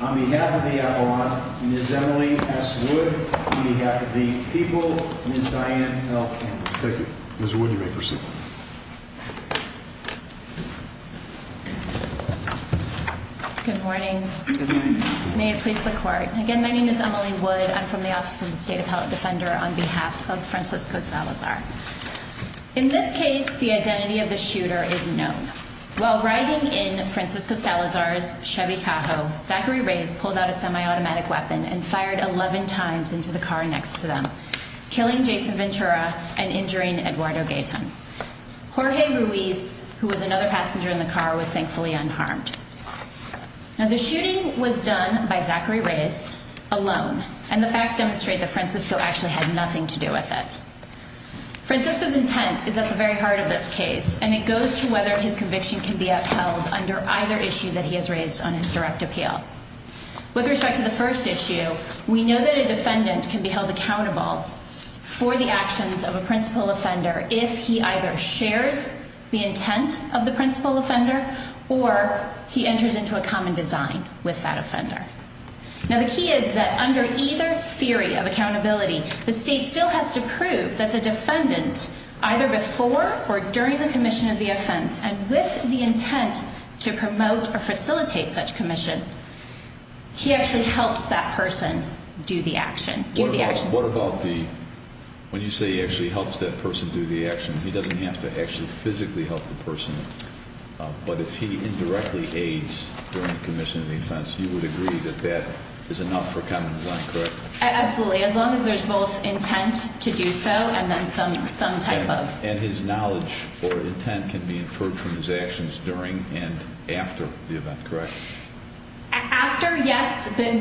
on behalf of the Avalon, Ms. Emily S. Wood, on behalf of the people, Ms. Dianne L. Campbell. Thank you. Ms. Wood, you may proceed. Good morning. May it please the Court. Again, my name is Emily Wood. I'm from the Office of the State Appellate Defender on behalf of Francisco Salazar. In this case, the identity of the shooter is known. While riding in Francisco Salazar's Chevy Tahoe, Zachary Reyes pulled out a semi-automatic weapon and fired 11 times into the car next to them, killing Jason Ventura and injuring Eduardo Gaetan. Jorge Ruiz, who was another passenger in the car, was thankfully unharmed. Now, the shooting was done by Zachary Reyes alone, and the facts demonstrate that Francisco actually had nothing to do with it. Francisco's intent is at the very heart of this case, and it goes to whether his conviction can be upheld under either issue that he has raised on his direct appeal. With respect to the first issue, we know that a defendant can be held accountable for the actions of a principal offender if he either shares the intent of the principal offender or he enters into a common design with that offender. Now, the key is that under either theory of accountability, the state still has to prove that the defendant, either before or during the commission of the offense, and with the intent to promote or facilitate such commission, he actually helps that person do the action. What about the, when you say he actually helps that person do the action, he doesn't have to actually physically help the person, but if he indirectly aids during the commission of the offense, you would agree that that is enough for common design, correct? Absolutely, as long as there's both intent to do so and then some type of. And his knowledge or intent can be inferred from his actions during and after the event, correct? After, yes, the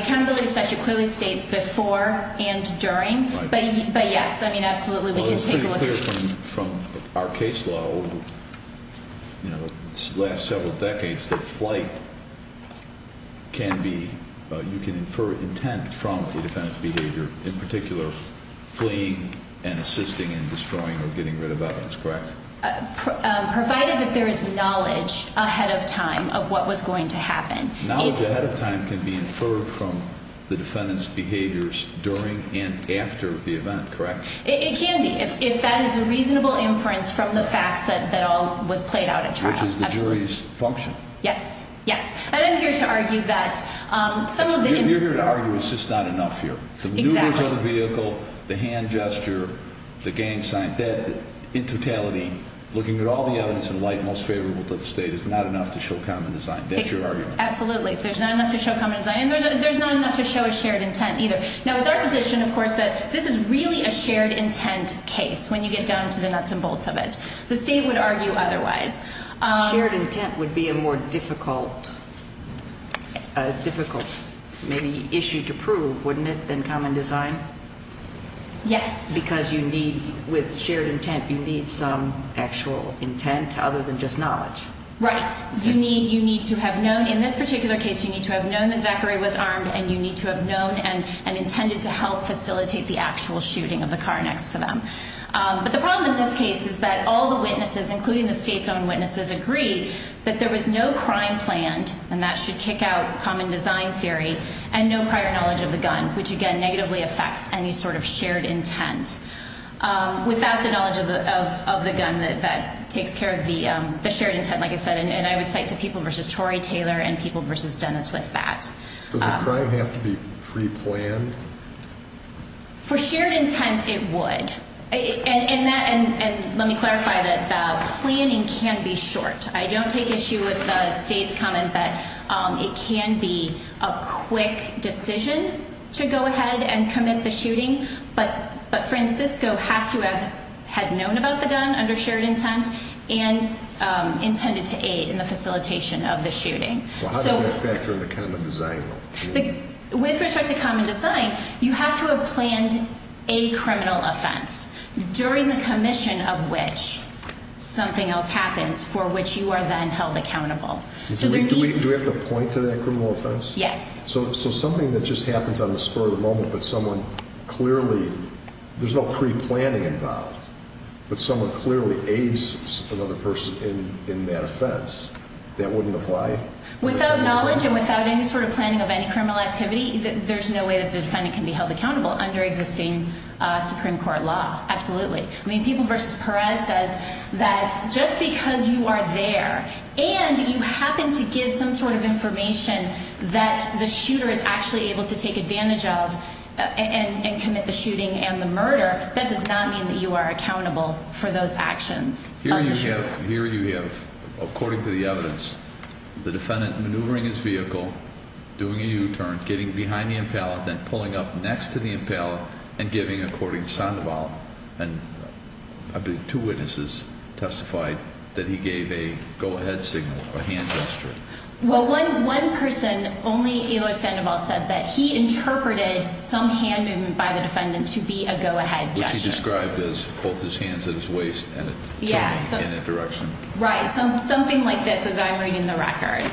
accountability statute clearly states before and during, but yes, I mean, absolutely, we can take a look at that. Well, it's pretty clear from our case law over the last several decades that flight can be, you can infer intent from the defendant's behavior, in particular fleeing and assisting in destroying or getting rid of evidence, correct? Provided that there is knowledge ahead of time of what was going to happen. Knowledge ahead of time can be inferred from the defendant's behaviors during and after the event, correct? It can be, if that is a reasonable inference from the facts that all was played out at trial. Which is the jury's function. Yes, yes, and I'm here to argue that some of the... You're here to argue it's just not enough here. Exactly. The maneuvers of the vehicle, the hand gesture, the gang sign, that in totality looking at all the evidence in light most favorable to the state is not enough to show common design. That's your argument. Absolutely, there's not enough to show common design, and there's not enough to show a shared intent either. Now, it's our position, of course, that this is really a shared intent case when you get down to the nuts and bolts of it. The state would argue otherwise. Shared intent would be a more difficult, difficult maybe issue to prove, wouldn't it, than common design? Yes. Right. You need to have known, in this particular case, you need to have known that Zachary was armed, and you need to have known and intended to help facilitate the actual shooting of the car next to them. But the problem in this case is that all the witnesses, including the state's own witnesses, agree that there was no crime planned, and that should kick out common design theory, and no prior knowledge of the gun, which again negatively affects any sort of shared intent. Without the knowledge of the gun, that takes care of the shared intent, like I said, and I would cite to people versus Tory Taylor and people versus Dennis with that. Does the crime have to be preplanned? For shared intent, it would. And let me clarify that the planning can be short. I don't take issue with the state's comment that it can be a quick decision to go ahead and commit the shooting. But Francisco has to have known about the gun under shared intent and intended to aid in the facilitation of the shooting. How does that factor into common design? With respect to common design, you have to have planned a criminal offense during the commission of which something else happens for which you are then held accountable. Do we have to point to that criminal offense? Yes. So something that just happens on the spur of the moment, but someone clearly, there's no preplanning involved, but someone clearly aids another person in that offense. That wouldn't apply? Without knowledge and without any sort of planning of any criminal activity, there's no way that the defendant can be held accountable under existing Supreme Court law. Absolutely. I mean, people versus Perez says that just because you are there and you happen to give some sort of information that the shooter is actually able to take advantage of and commit the shooting and the murder, that does not mean that you are accountable for those actions. Here you have, according to the evidence, the defendant maneuvering his vehicle, doing a U-turn, getting behind the impellet, then pulling up next to the impellet and giving, according to Sandoval, and two witnesses testified that he gave a go-ahead signal, a hand gesture. Well, one person, only Eloy Sandoval, said that he interpreted some hand movement by the defendant to be a go-ahead gesture. Which he described as both his hands at his waist and a turn in a direction. Right. Something like this as I'm reading the record.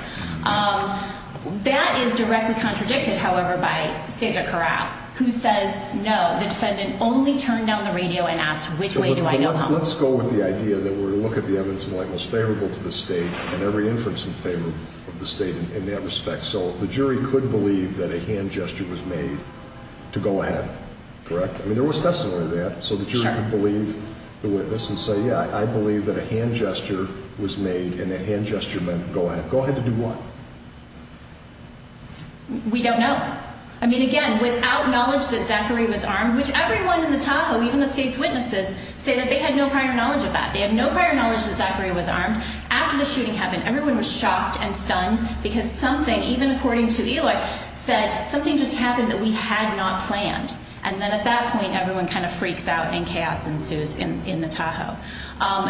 That is directly contradicted, however, by Cesar Corral, who says, no, the defendant only turned down the radio and asked, which way do I go home? Let's go with the idea that we're going to look at the evidence in light most favorable to the state and every inference in favor of the state in that respect. So the jury could believe that a hand gesture was made to go ahead, correct? I mean, there was testimony to that. So the jury could believe the witness and say, yeah, I believe that a hand gesture was made and a hand gesture meant go ahead. Go ahead and do what? We don't know. I mean, again, without knowledge that Zachary was armed, which everyone in the Tahoe, even the state's witnesses, say that they had no prior knowledge of that. They had no prior knowledge that Zachary was armed. After the shooting happened, everyone was shocked and stunned because something, even according to Eloy, said something just happened that we had not planned. And then at that point, everyone kind of freaks out and chaos ensues in the Tahoe.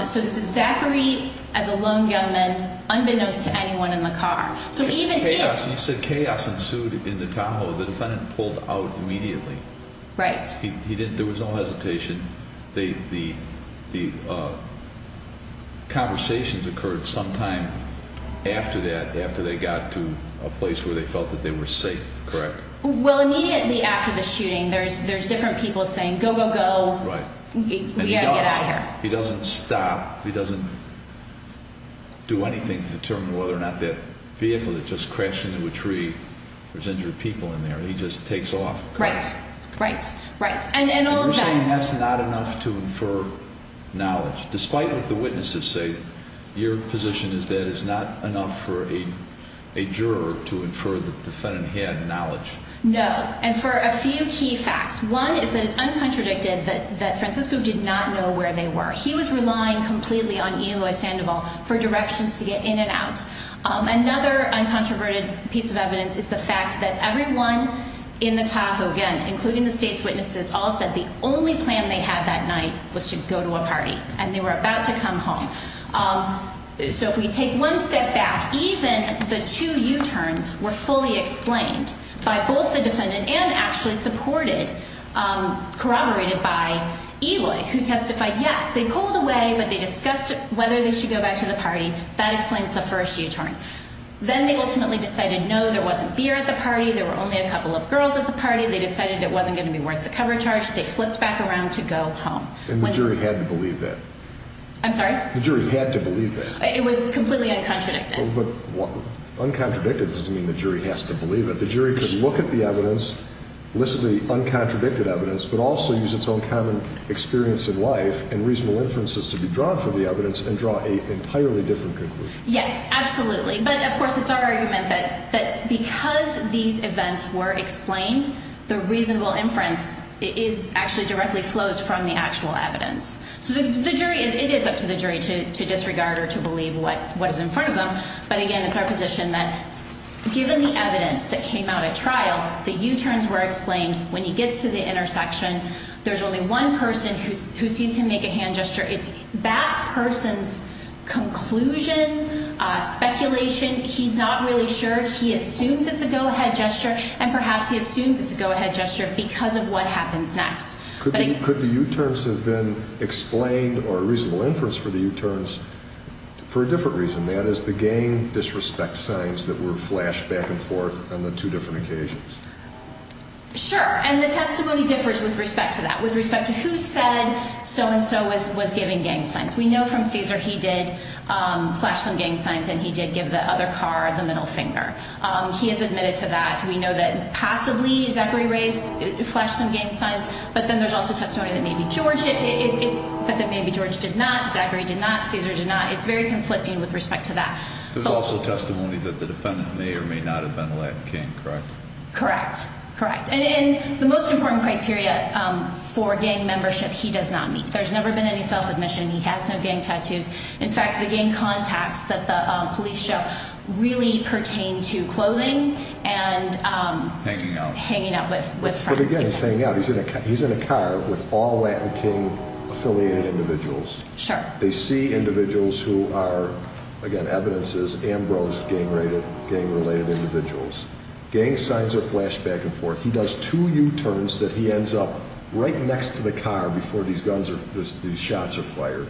So this is Zachary as a lone young man unbeknownst to anyone in the car. So even if- Chaos, you said chaos ensued in the Tahoe. The defendant pulled out immediately. Right. There was no hesitation. The conversations occurred sometime after that, after they got to a place where they felt that they were safe, correct? Well, immediately after the shooting, there's different people saying, go, go, go. Right. We've got to get out of here. He doesn't stop. He doesn't do anything to determine whether or not that vehicle that just crashed into a tree, there's injured people in there. He just takes off. Right, right, right. And all of that- You're saying that's not enough to infer knowledge, despite what the witnesses say. Your position is that it's not enough for a juror to infer that the defendant had knowledge. No. And for a few key facts. One is that it's uncontradicted that Francisco did not know where they were. He was relying completely on Eloy Sandoval for directions to get in and out. Another uncontroverted piece of evidence is the fact that everyone in the Tahoe, again, including the state's witnesses, all said the only plan they had that night was to go to a party. And they were about to come home. So if we take one step back, even the two U-turns were fully explained by both the defendant and actually supported, corroborated by Eloy, who testified, yes, they pulled away, but they discussed whether they should go back to the party. That explains the first U-turn. Then they ultimately decided, no, there wasn't beer at the party. There were only a couple of girls at the party. They decided it wasn't going to be worth the cover charge. They flipped back around to go home. And the jury had to believe that? I'm sorry? The jury had to believe that. It was completely uncontradicted. But uncontradicted doesn't mean the jury has to believe it. The jury could look at the evidence, listen to the uncontradicted evidence, but also use its own common experience in life and reasonable inferences to be drawn from the evidence and draw an entirely different conclusion. Yes, absolutely. But, of course, it's our argument that because these events were explained, the reasonable inference actually directly flows from the actual evidence. So the jury, it is up to the jury to disregard or to believe what is in front of them. But, again, it's our position that given the evidence that came out at trial, the U-turns were explained. When he gets to the intersection, there's only one person who sees him make a hand gesture. It's that person's conclusion, speculation. He's not really sure. He assumes it's a go-ahead gesture. And perhaps he assumes it's a go-ahead gesture because of what happens next. Could the U-turns have been explained or a reasonable inference for the U-turns for a different reason? That is, the gang disrespect signs that were flashed back and forth on the two different occasions. Sure. And the testimony differs with respect to that, with respect to who said so-and-so was giving gang signs. We know from Cesar he did flash some gang signs and he did give the other car the middle finger. He has admitted to that. We know that possibly Zachary Ray flashed some gang signs. But then there's also testimony that maybe George did not, Zachary did not, Cesar did not. It's very conflicting with respect to that. There's also testimony that the defendant may or may not have been a Latin king, correct? Correct. Correct. And the most important criteria for gang membership he does not meet. There's never been any self-admission. He has no gang tattoos. In fact, the gang contacts that the police show really pertain to clothing and hanging out with friends. But again, it's hanging out. He's in a car with all Latin king-affiliated individuals. Sure. They see individuals who are, again, evidence is Ambrose gang-related individuals. Gang signs are flashed back and forth. He does two U-turns that he ends up right next to the car before these shots are fired.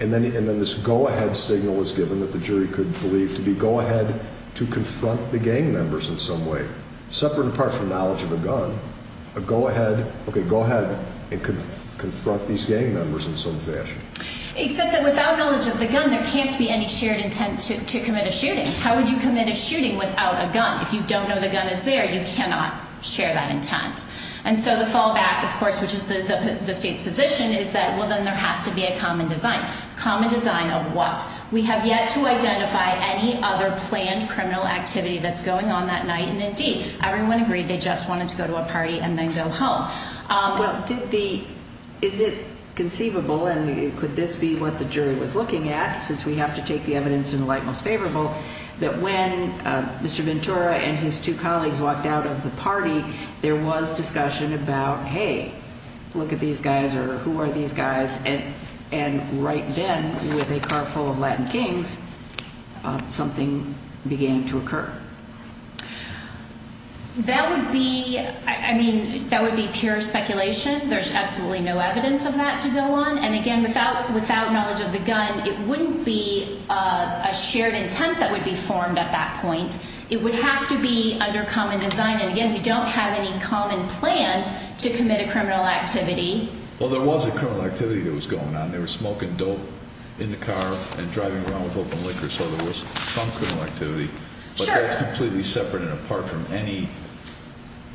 And then this go-ahead signal is given that the jury could believe to be go-ahead to confront the gang members in some way. Separate and apart from knowledge of a gun, a go-ahead, okay, go-ahead and confront these gang members in some fashion. Except that without knowledge of the gun, there can't be any shared intent to commit a shooting. How would you commit a shooting without a gun? If you don't know the gun is there, you cannot share that intent. And so the fallback, of course, which is the state's position, is that, well, then there has to be a common design. Common design of what? We have yet to identify any other planned criminal activity that's going on that night. And indeed, everyone agreed they just wanted to go to a party and then go home. Well, did the, is it conceivable, and could this be what the jury was looking at since we have to take the evidence in the light most favorable, that when Mr. Ventura and his two colleagues walked out of the party, there was discussion about, hey, look at these guys or who are these guys? And right then, with a car full of Latin kings, something began to occur. That would be, I mean, that would be pure speculation. There's absolutely no evidence of that to go on. And again, without knowledge of the gun, it wouldn't be a shared intent that would be formed at that point. It would have to be under common design. And again, we don't have any common plan to commit a criminal activity. Well, there was a criminal activity that was going on. They were smoking dope in the car and driving around with open liquor, so there was some criminal activity. But that's completely separate and apart from any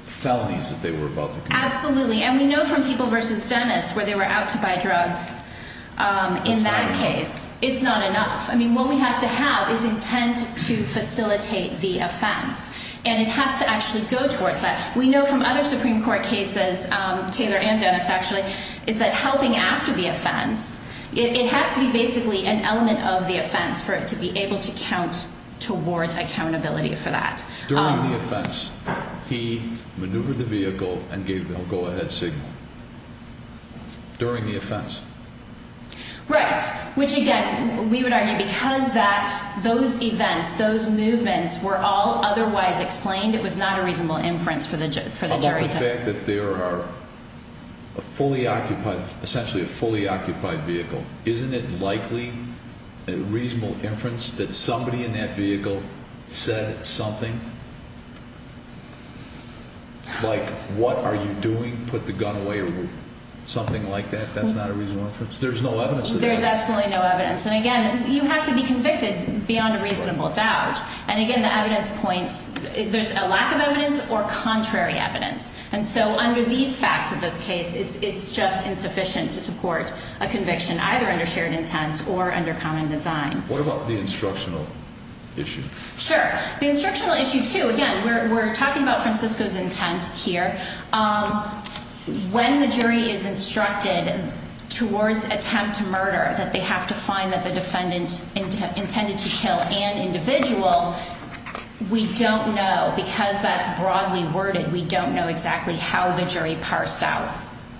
felonies that they were about to commit. Absolutely. And we know from people versus Dennis where they were out to buy drugs in that case, it's not enough. I mean, what we have to have is intent to facilitate the offense. And it has to actually go towards that. We know from other Supreme Court cases, Taylor and Dennis actually, is that helping after the offense, it has to be basically an element of the offense for it to be able to count towards accountability for that. During the offense, he maneuvered the vehicle and gave the go-ahead signal. During the offense. Right. Which, again, we would argue because that, those events, those movements were all otherwise explained, it was not a reasonable inference for the jury to have. The fact that there are a fully occupied, essentially a fully occupied vehicle, isn't it likely a reasonable inference that somebody in that vehicle said something like, what are you doing? Put the gun away or something like that? That's not a reasonable inference? There's no evidence of that? There's absolutely no evidence. And again, you have to be convicted beyond a reasonable doubt. And again, the evidence points, there's a lack of evidence or contrary evidence. And so under these facts of this case, it's just insufficient to support a conviction, either under shared intent or under common design. What about the instructional issue? Sure. The instructional issue, too, again, we're talking about Francisco's intent here. When the jury is instructed towards attempt to murder that they have to find that the defendant intended to kill an individual, we don't know. Because that's broadly worded, we don't know exactly how the jury parsed out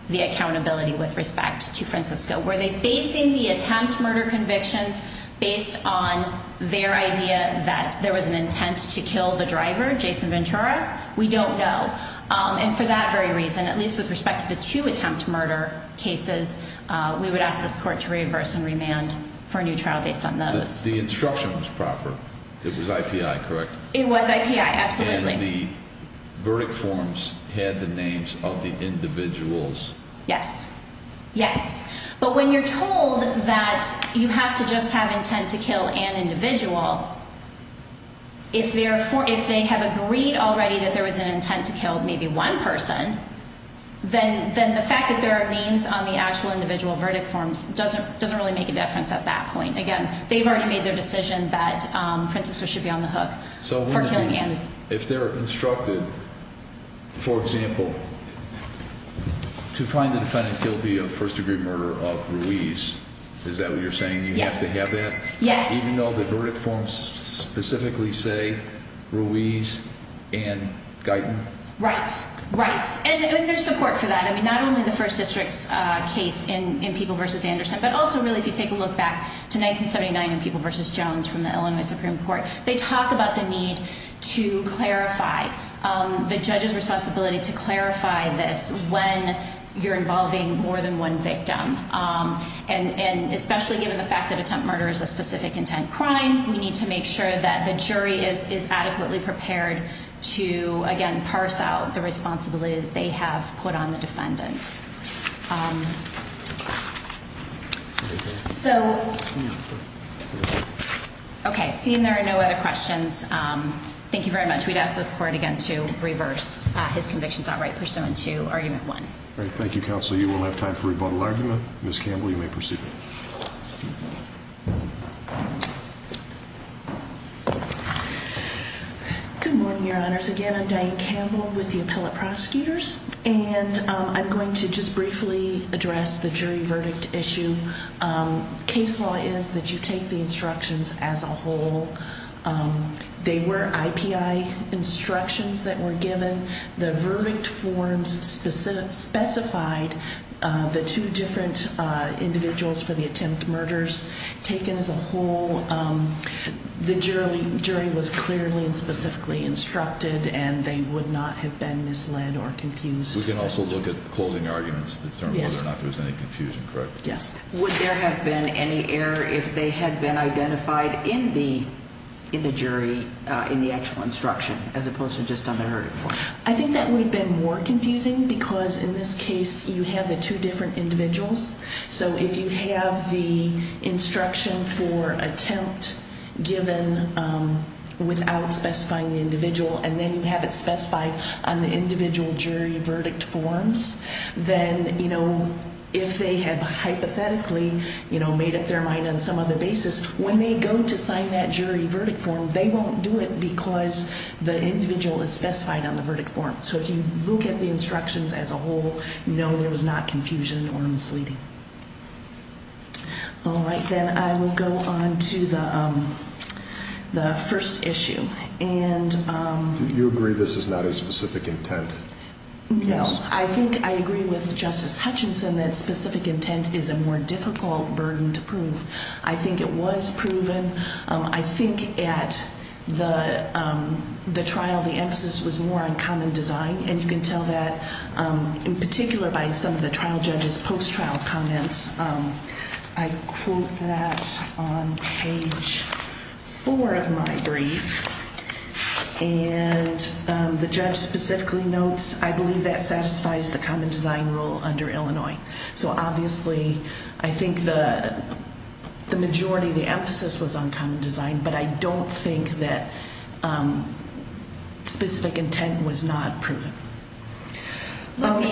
the accountability with respect to Francisco. Were they basing the attempt murder convictions based on their idea that there was an intent to kill the driver, Jason Ventura? We don't know. And for that very reason, at least with respect to the two attempt murder cases, we would ask this court to reverse and remand for a new trial based on those. The instruction was proper. It was IPI, correct? It was IPI, absolutely. And the verdict forms had the names of the individuals? Yes. Yes. But when you're told that you have to just have intent to kill an individual, if they have agreed already that there was an intent to kill maybe one person, then the fact that there are names on the actual individual verdict forms doesn't really make a difference at that point. Again, they've already made their decision that Francisco should be on the hook for killing Andy. If they're instructed, for example, to find the defendant guilty of first degree murder of Ruiz, is that what you're saying? Yes. You have to have that? Yes. Even though the verdict forms specifically say Ruiz and Guyton? Right. Right. And there's support for that. The judge's responsibility to clarify this when you're involving more than one victim. And especially given the fact that attempt murder is a specific intent crime, we need to make sure that the jury is adequately prepared to, again, parse out the responsibility that they have put on the defendant. So, okay, seeing there are no other questions, thank you very much. We'd ask this court again to reverse his convictions outright pursuant to argument one. All right. Thank you, counsel. You will have time for rebuttal argument. Ms. Campbell, you may proceed. Good morning, your honors. Again, I'm Diane Campbell with the appellate prosecutors, and I'm going to just briefly address the jury verdict issue. Case law is that you take the instructions as a whole. They were IPI instructions that were given. The verdict forms specified the two different individuals for the attempt murders taken as a whole. The jury was clearly and specifically instructed, and they would not have been misled or confused. We can also look at the closing arguments to determine whether or not there was any confusion, correct? Yes. Would there have been any error if they had been identified in the jury in the actual instruction as opposed to just on the verdict form? I think that would have been more confusing because in this case you have the two different individuals. So if you have the instruction for attempt given without specifying the individual and then you have it specified on the individual jury verdict forms, then if they have hypothetically made up their mind on some other basis, when they go to sign that jury verdict form, they won't do it because the individual is specified on the verdict form. So if you look at the instructions as a whole, you know there was not confusion or misleading. All right, then I will go on to the first issue. Do you agree this is not a specific intent? No. I think I agree with Justice Hutchinson that specific intent is a more difficult burden to prove. I think it was proven. I think at the trial the emphasis was more on common design, and you can tell that in particular by some of the trial judge's post-trial comments. I quote that on page four of my brief, and the judge specifically notes, I believe that satisfies the common design rule under Illinois. So obviously I think the majority of the emphasis was on common design, but I don't think that specific intent was not proven. I want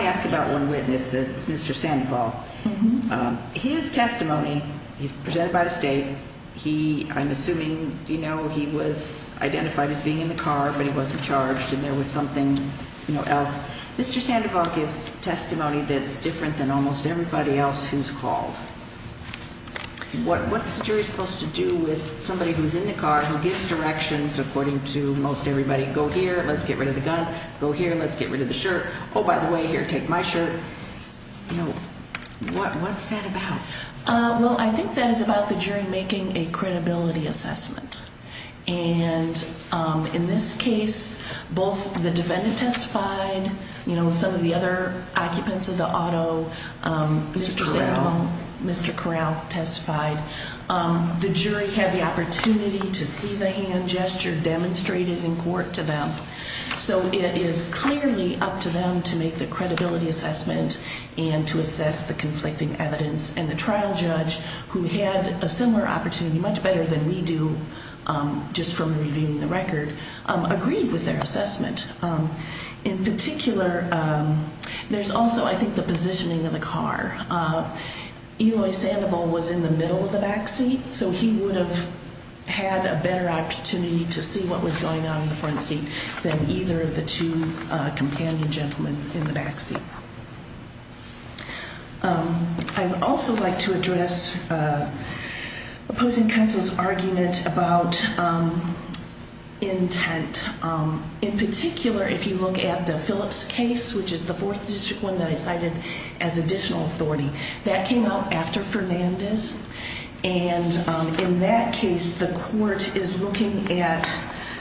to ask about one witness. It's Mr. Sandoval. His testimony, he's presented by the state. I'm assuming he was identified as being in the car, but he wasn't charged and there was something else. Mr. Sandoval gives testimony that's different than almost everybody else who's called. What's a jury supposed to do with somebody who's in the car who gives directions according to most everybody? Go here, let's get rid of the gun. Go here, let's get rid of the shirt. Oh, by the way, here, take my shirt. You know, what's that about? Well, I think that is about the jury making a credibility assessment. And in this case, both the defendant testified. Some of the other occupants of the auto, Mr. Corral testified. The jury had the opportunity to see the hand gesture demonstrated in court to them. So it is clearly up to them to make the credibility assessment and to assess the conflicting evidence. And the trial judge, who had a similar opportunity, much better than we do just from reviewing the record, agreed with their assessment. In particular, there's also, I think, the positioning of the car. Eloy Sandoval was in the middle of the back seat, so he would have had a better opportunity to see what was going on in the front seat than either of the two companion gentlemen in the back seat. I'd also like to address opposing counsel's argument about intent. In particular, if you look at the Phillips case, which is the 4th District one that I cited as additional authority, that came out after Fernandez. And in that case, the court is looking at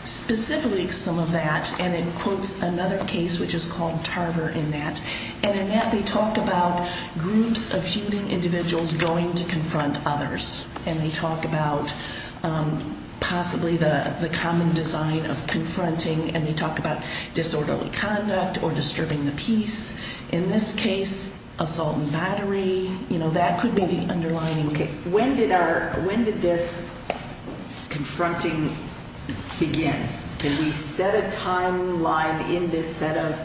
specifically some of that. And it quotes another case, which is called Tarver, in that. And in that, they talk about groups of shooting individuals going to confront others. And they talk about possibly the common design of confronting. And they talk about disorderly conduct or disturbing the peace. In this case, assault and battery, that could be the underlying. Okay. When did this confronting begin? Can we set a timeline in this set of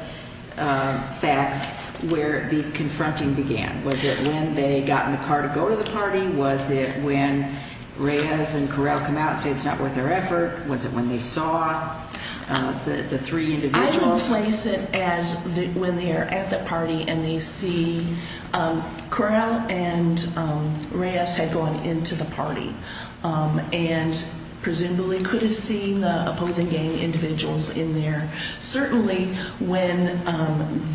facts where the confronting began? Was it when they got in the car to go to the party? Was it when Reyes and Correll come out and say it's not worth their effort? Was it when they saw the three individuals? I would place it as when they're at the party and they see Correll and Reyes had gone into the party. And presumably could have seen the opposing gang individuals in there. Certainly, when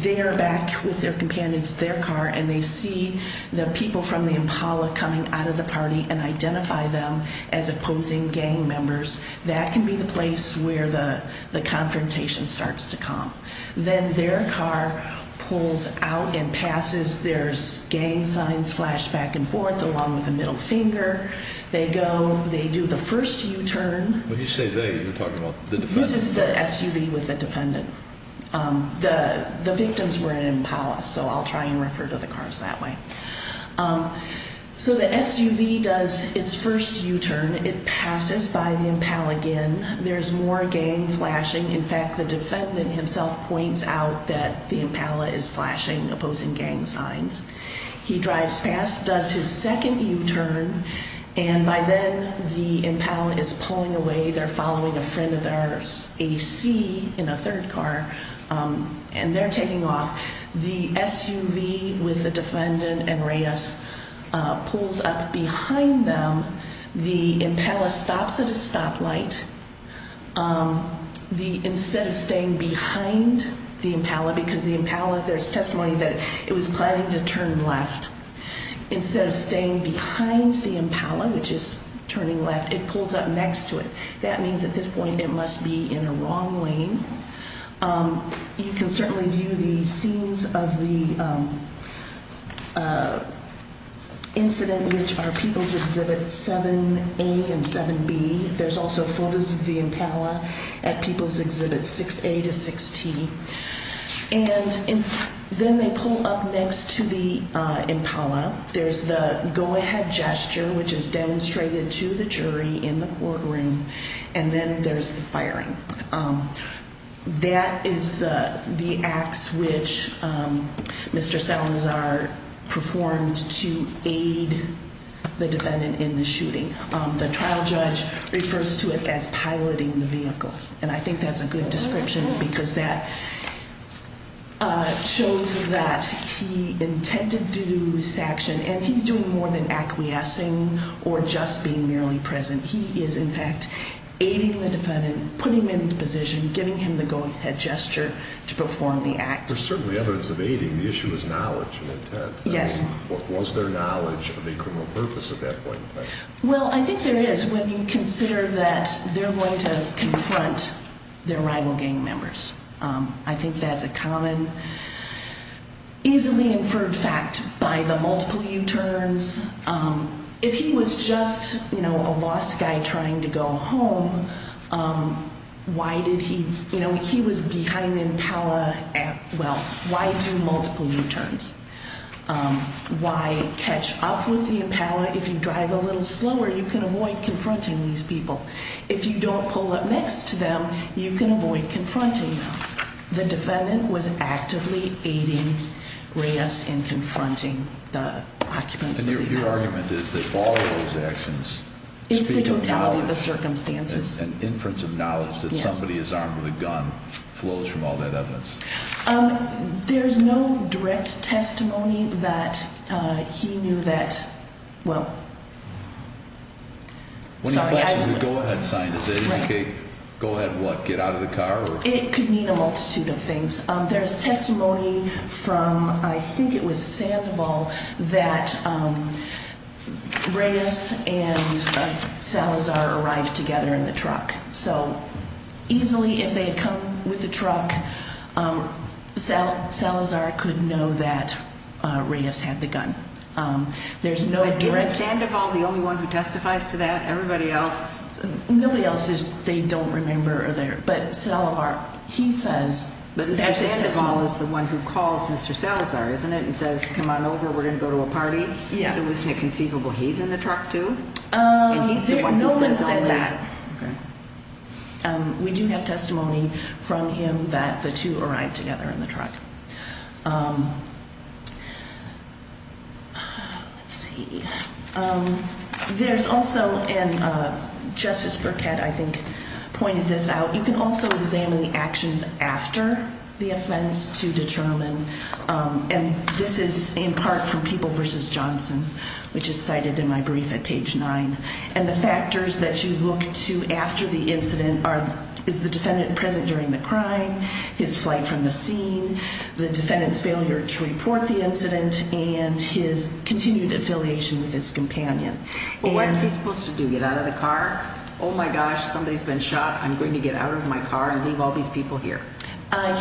they're back with their companions in their car and they see the people from the Impala coming out of the party and identify them as opposing gang members, that can be the place where the confrontation starts to come. Then their car pulls out and passes. There's gang signs flashed back and forth along with a middle finger. They go. They do the first U-turn. When you say they, you're talking about the defendant? This is the SUV with the defendant. The victims were at Impala, so I'll try and refer to the cars that way. So the SUV does its first U-turn. It passes by the Impala again. There's more gang flashing. In fact, the defendant himself points out that the Impala is flashing opposing gang signs. He drives past, does his second U-turn, and by then the Impala is pulling away. They're following a friend of theirs, a C, in a third car, and they're taking off. The SUV with the defendant and Reyes pulls up behind them. The Impala stops at a stoplight. Instead of staying behind the Impala, because the Impala, there's testimony that it was planning to turn left. Instead of staying behind the Impala, which is turning left, it pulls up next to it. That means at this point it must be in the wrong lane. You can certainly view the scenes of the incident, which are People's Exhibit 7A and 7B. There's also photos of the Impala at People's Exhibit 6A to 6T. And then they pull up next to the Impala. There's the go-ahead gesture, which is demonstrated to the jury in the courtroom, and then there's the firing. That is the acts which Mr. Salazar performed to aid the defendant in the shooting. The trial judge refers to it as piloting the vehicle, and I think that's a good description because that shows that he intended to do this action, and he's doing more than acquiescing or just being merely present. He is, in fact, aiding the defendant, putting him into position, giving him the go-ahead gesture to perform the act. There's certainly evidence of aiding. The issue is knowledge and intent. Yes. Was there knowledge of the criminal purpose at that point in time? Well, I think there is when you consider that they're going to confront their rival gang members. I think that's a common, easily inferred fact by the multiple U-turns. If he was just, you know, a lost guy trying to go home, why did he, you know, he was behind the Impala at, well, why do multiple U-turns? Why catch up with the Impala? If you drive a little slower, you can avoid confronting these people. If you don't pull up next to them, you can avoid confronting them. The defendant was actively aiding Reyes in confronting the occupants of the Impala. And your argument is that all of those actions speak of knowledge. It's the totality of the circumstances. An inference of knowledge that somebody is armed with a gun flows from all that evidence. There's no direct testimony that he knew that, well, sorry. When he flashes the go-ahead sign, does that indicate go ahead what, get out of the car? It could mean a multitude of things. There's testimony from, I think it was Sandoval, that Reyes and Salazar arrived together in the truck. So easily, if they had come with the truck, Salazar could know that Reyes had the gun. There's no direct. Isn't Sandoval the only one who testifies to that? Everybody else? Nobody else. They don't remember. But Salazar, he says. But Sandoval is the one who calls Mr. Salazar, isn't it, and says, come on over, we're going to go to a party? Yeah. So isn't it conceivable he's in the truck, too? No one said that. Okay. We do have testimony from him that the two arrived together in the truck. Let's see. There's also, and Justice Burkett, I think, pointed this out, you can also examine the actions after the offense to determine, and this is in part from People v. Johnson, which is cited in my brief at page 9, and the factors that you look to after the incident are, is the defendant present during the crime, his flight from the scene, the defendant's failure to report the incident, and his continued affiliation with his companion. Well, what is he supposed to do, get out of the car? Oh, my gosh, somebody's been shot. I'm going to get out of my car and leave all these people here.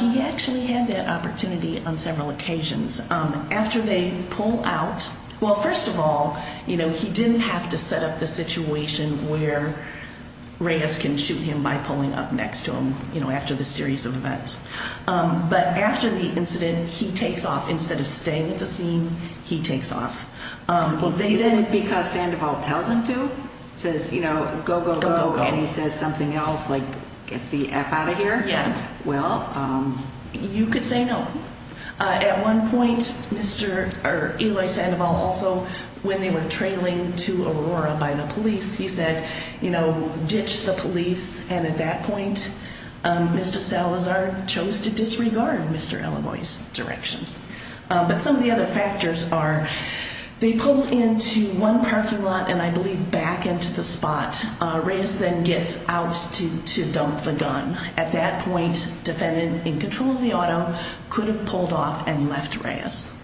He actually had that opportunity on several occasions. After they pull out, well, first of all, you know, he didn't have to set up the situation where Reyes can shoot him by pulling up next to him, you know, after the series of events. But after the incident, he takes off. Instead of staying at the scene, he takes off. Well, isn't it because Sandoval tells him to, says, you know, go, go, go, and he says something else like get the F out of here? Yeah. Well, you could say no. At one point, Mr. or Eloy Sandoval also, when they were trailing to Aurora by the police, he said, you know, ditch the police, and at that point, Mr. Salazar chose to disregard Mr. Eloy's directions. But some of the other factors are they pull into one parking lot and, I believe, back into the spot. Reyes then gets out to dump the gun. At that point, defendant in control of the auto could have pulled off and left Reyes.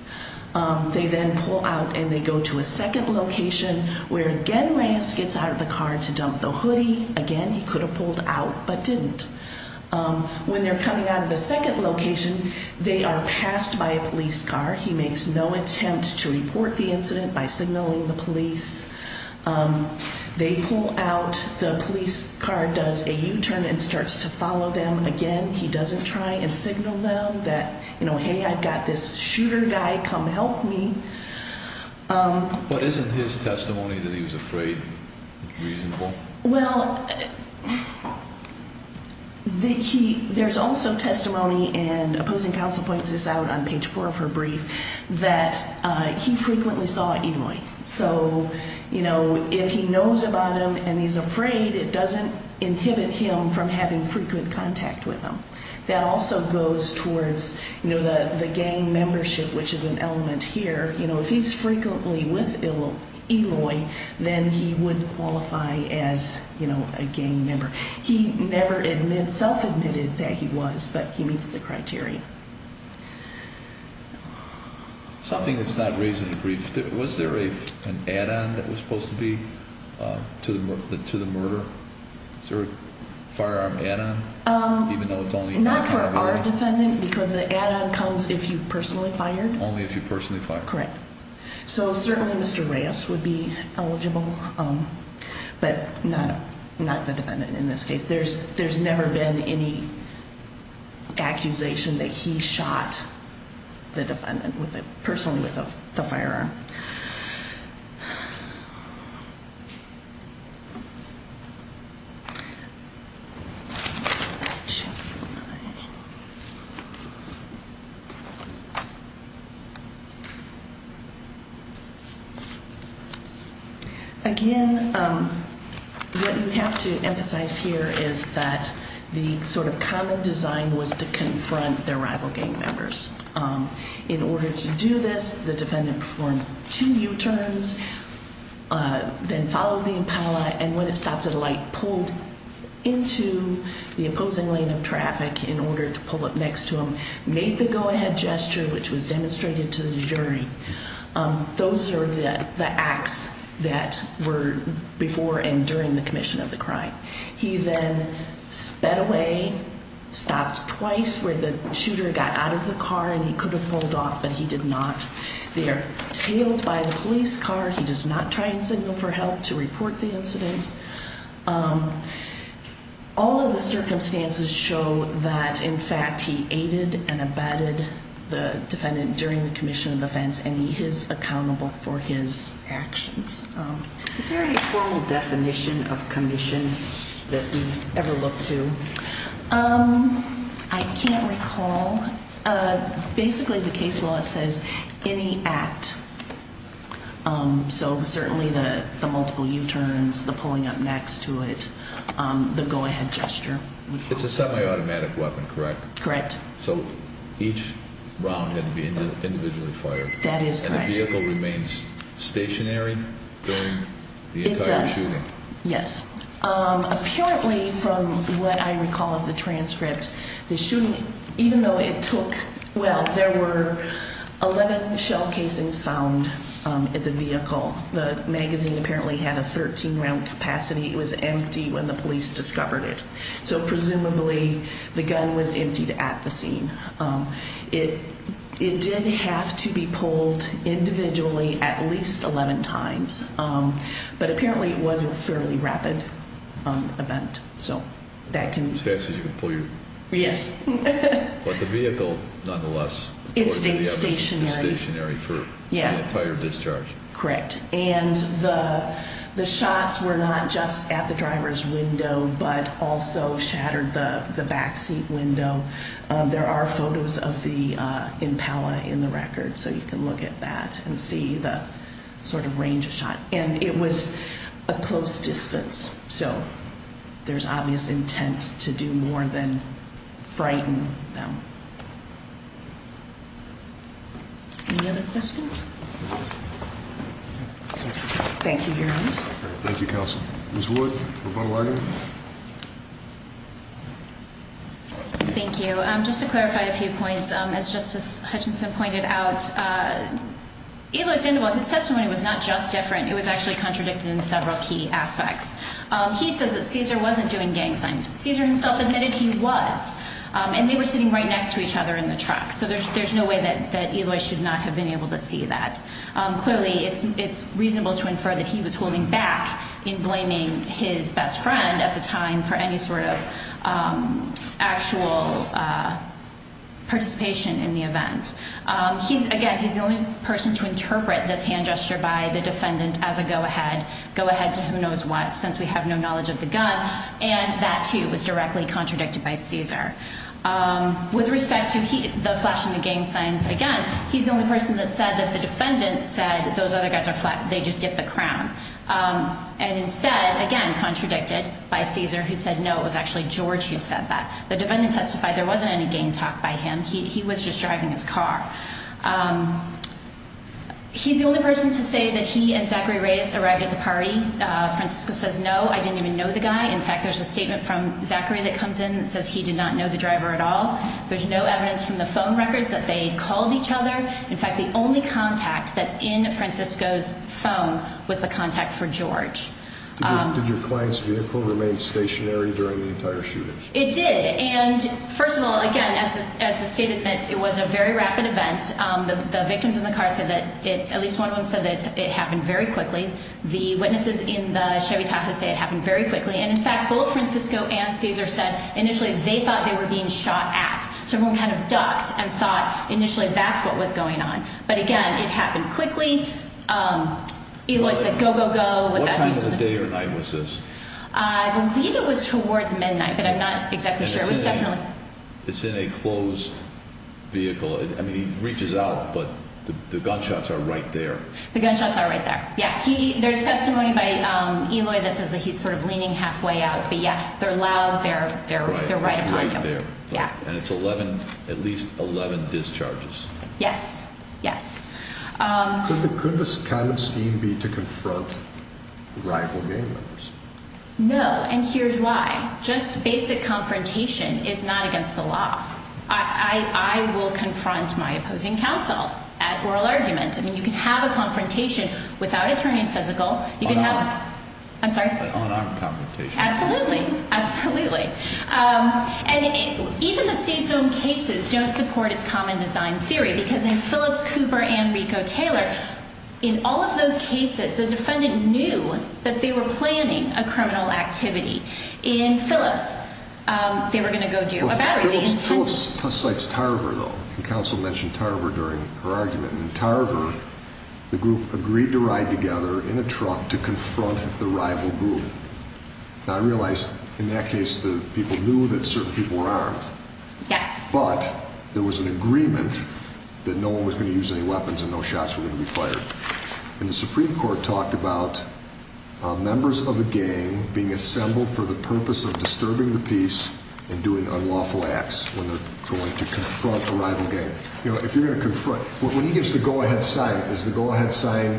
They then pull out and they go to a second location where, again, Reyes gets out of the car to dump the hoodie. Again, he could have pulled out but didn't. When they're coming out of the second location, they are passed by a police car. He makes no attempt to report the incident by signaling the police. They pull out. The police car does a U-turn and starts to follow them again. He doesn't try and signal them that, you know, hey, I've got this shooter guy, come help me. But isn't his testimony that he was afraid reasonable? Well, there's also testimony, and opposing counsel points this out on page 4 of her brief, that he frequently saw Eloy. So, you know, if he knows about him and he's afraid, it doesn't inhibit him from having frequent contact with him. That also goes towards, you know, the gang membership, which is an element here. You know, if he's frequently with Eloy, then he wouldn't qualify as, you know, a gang member. He never self-admitted that he was, but he meets the criteria. Something that's not raised in the brief. Was there an add-on that was supposed to be to the murder? Was there a firearm add-on, even though it's only not for Eloy? Not for our defendant because the add-on comes if you personally fired. Only if you personally fired. Correct. So certainly Mr. Reyes would be eligible, but not the defendant in this case. There's never been any accusation that he shot the defendant personally with a firearm. Again, what you have to emphasize here is that the sort of common design was to confront their rival gang members. In order to do this, the defendant performed two U-turns, then followed the impala, and when it stopped at a light, pulled into the opposing lane of traffic in order to pull up next to him, made the go-ahead gesture, which was demonstrated to the jury. Those are the acts that were before and during the commission of the crime. He then sped away, stopped twice where the shooter got out of the car and he could have pulled off, but he did not. They are tailed by the police car. He does not try and signal for help to report the incident. All of the circumstances show that, in fact, he aided and abetted the defendant during the commission of offense, and he is accountable for his actions. Is there a formal definition of commission that we've ever looked to? I can't recall. Basically, the case law says any act, so certainly the multiple U-turns, the pulling up next to it, the go-ahead gesture. It's a semi-automatic weapon, correct? Correct. So each round had to be individually fired. That is correct. And the vehicle remains stationary during the entire shooting? It does, yes. Apparently, from what I recall of the transcript, the shooting, even though it took, well, there were 11 shell casings found in the vehicle. The magazine apparently had a 13-round capacity. It was empty when the police discovered it, so presumably the gun was emptied at the scene. It did have to be pulled individually at least 11 times, but apparently it was a fairly rapid event. As fast as you can pull your vehicle? Yes. But the vehicle, nonetheless, was stationary for the entire discharge? Correct. And the shots were not just at the driver's window but also shattered the backseat window. There are photos of the Impala in the record, so you can look at that and see the sort of range of shot. And it was a close distance, so there's obvious intent to do more than frighten them. Any other questions? Thank you, Your Honor. Thank you, Counsel. Ms. Wood, rebuttal argument? Thank you. Just to clarify a few points, as Justice Hutchinson pointed out, Eloy's testimony was not just different. It was actually contradicted in several key aspects. He says that Caesar wasn't doing gang signs. Caesar himself admitted he was, and they were sitting right next to each other in the truck, so there's no way that Eloy should not have been able to see that. Clearly, it's reasonable to infer that he was holding back in blaming his best friend at the time for any sort of actual participation in the event. Again, he's the only person to interpret this hand gesture by the defendant as a go-ahead, go-ahead to who knows what, since we have no knowledge of the gun, and that, too, was directly contradicted by Caesar. With respect to the flash and the gang signs, again, he's the only person that said that the defendant said those other guys are flat, they just dipped the crown, and instead, again, contradicted by Caesar, who said, no, it was actually George who said that. The defendant testified there wasn't any gang talk by him. He was just driving his car. He's the only person to say that he and Zachary Reyes arrived at the party. Francisco says, no, I didn't even know the guy. In fact, there's a statement from Zachary that comes in that says he did not know the driver at all. There's no evidence from the phone records that they called each other. In fact, the only contact that's in Francisco's phone was the contact for George. Did your client's vehicle remain stationary during the entire shooting? It did, and, first of all, again, as the state admits, it was a very rapid event. The victims in the car said that at least one of them said that it happened very quickly. The witnesses in the Chevy Tahoe say it happened very quickly. And, in fact, both Francisco and Caesar said initially they thought they were being shot at. So everyone kind of ducked and thought initially that's what was going on. But, again, it happened quickly. Eloy said, go, go, go. What time of the day or night was this? I believe it was towards midnight, but I'm not exactly sure. It's in a closed vehicle. I mean, he reaches out, but the gunshots are right there. The gunshots are right there, yeah. There's testimony by Eloy that says that he's sort of leaning halfway out. But, yeah, they're loud. They're right upon him. And it's at least 11 discharges. Yes, yes. Could this kind of scheme be to confront rival gang members? No, and here's why. Just basic confrontation is not against the law. I will confront my opposing counsel at oral argument. I mean, you can have a confrontation without it turning physical. On arm. I'm sorry? On arm confrontation. Absolutely, absolutely. And even the state's own cases don't support its common design theory because in Phillips, Cooper, and Rico Taylor, in all of those cases, the defendant knew that they were planning a criminal activity. In Phillips, they were going to go do a battery. Phillips cites Tarver, though. Counsel mentioned Tarver during her argument. In Tarver, the group agreed to ride together in a truck to confront the rival group. Now, I realize in that case the people knew that certain people were armed. Yes. But there was an agreement that no one was going to use any weapons and no shots were going to be fired. And the Supreme Court talked about members of a gang being assembled for the purpose of disturbing the peace and doing unlawful acts when they're going to confront a rival gang. You know, if you're going to confront, when he gives the go-ahead sign, is the go-ahead sign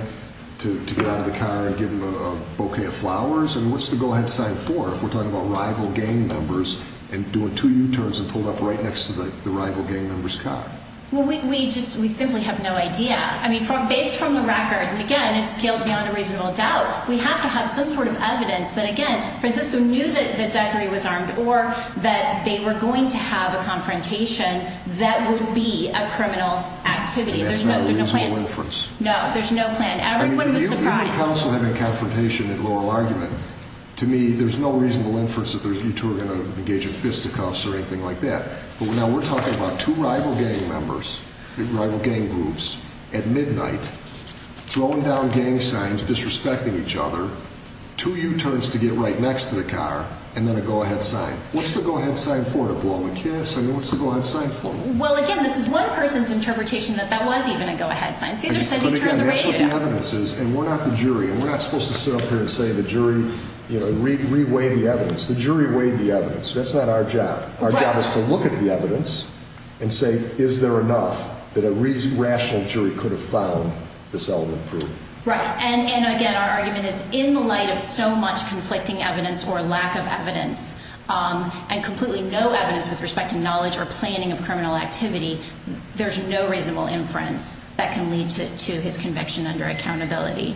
to get out of the car and give him a bouquet of flowers? And what's the go-ahead sign for if we're talking about rival gang members and doing two U-turns and pulled up right next to the rival gang member's car? Well, we just simply have no idea. I mean, based from the record, and, again, it's killed beyond a reasonable doubt, we have to have some sort of evidence that, again, Francisco knew that Zachary was armed or that they were going to have a confrontation that would be a criminal activity. There's no plan. And that's not a reasonable inference. No, there's no plan. Everyone was surprised. I mean, if you're in a council having a confrontation in a loral argument, to me there's no reasonable inference that you two are going to engage in fisticuffs or anything like that. But now we're talking about two rival gang members, rival gang groups, at midnight, throwing down gang signs, disrespecting each other, two U-turns to get right next to the car, and then a go-ahead sign. What's the go-ahead sign for to blow them a kiss? I mean, what's the go-ahead sign for? Well, again, this is one person's interpretation that that was even a go-ahead sign. Caesar said he turned the radio down. But, again, that's what the evidence is. And we're not the jury. And we're not supposed to sit up here and say the jury re-weighed the evidence. The jury weighed the evidence. That's not our job. Our job is to look at the evidence and say, is there enough that a rational jury could have found this element proven? Right. And, again, our argument is in the light of so much conflicting evidence or lack of evidence and completely no evidence with respect to knowledge or planning of criminal activity, there's no reasonable inference that can lead to his conviction under accountability.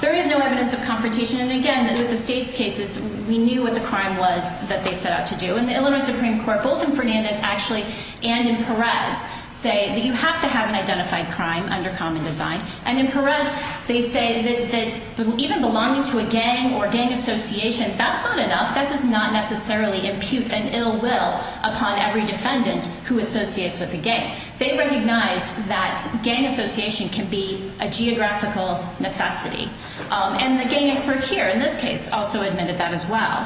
There is no evidence of confrontation. And, again, with the States' cases, we knew what the crime was that they set out to do. And the Illinois Supreme Court, both in Fernandez, actually, and in Perez, say that you have to have an identified crime under common design. And in Perez, they say that even belonging to a gang or gang association, that's not enough. That does not necessarily impute an ill will upon every defendant who associates with a gang. They recognize that gang association can be a geographical necessity. And the gang expert here, in this case, also admitted that as well.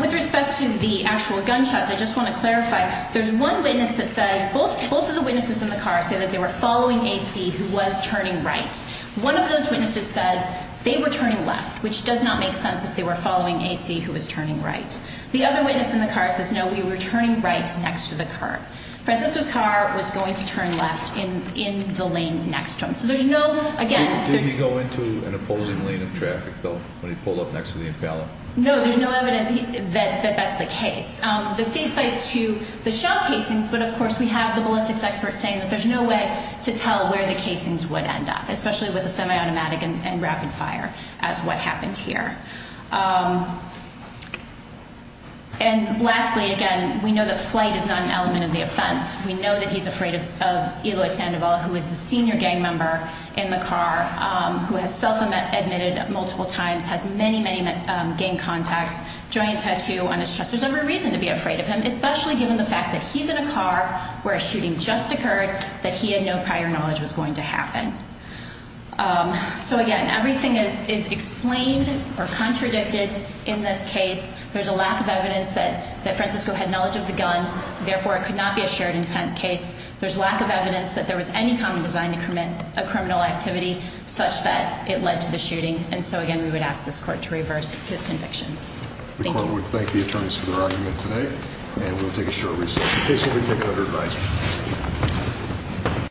With respect to the actual gunshots, I just want to clarify, there's one witness that says, both of the witnesses in the car say that they were following A.C. who was turning right. One of those witnesses said they were turning left, which does not make sense if they were following A.C. who was turning right. The other witness in the car says, no, we were turning right next to the car. Francisco's car was going to turn left in the lane next to him. So there's no, again, Did he go into an opposing lane of traffic, though, when he pulled up next to the impeller? No, there's no evidence that that's the case. The state cites to the shell casings. But, of course, we have the ballistics experts saying that there's no way to tell where the casings would end up, especially with a semi-automatic and rapid fire, as what happened here. And lastly, again, we know that flight is not an element of the offense. We know that he's afraid of Eloy Sandoval, who is the senior gang member in the car, who has self-admitted multiple times, has many, many gang contacts, joint tattoo on his chest. There's every reason to be afraid of him, especially given the fact that he's in a car where a shooting just occurred, that he had no prior knowledge was going to happen. So, again, everything is explained or contradicted in this case. There's a lack of evidence that Francisco had knowledge of the gun. Therefore, it could not be a shared intent case. There's lack of evidence that there was any common design to commit a criminal activity such that it led to the shooting. And so, again, we would ask this court to reverse his conviction. Thank you. The court would thank the attorneys for their argument today, and we'll take a short recess. The case will be taken under advisory.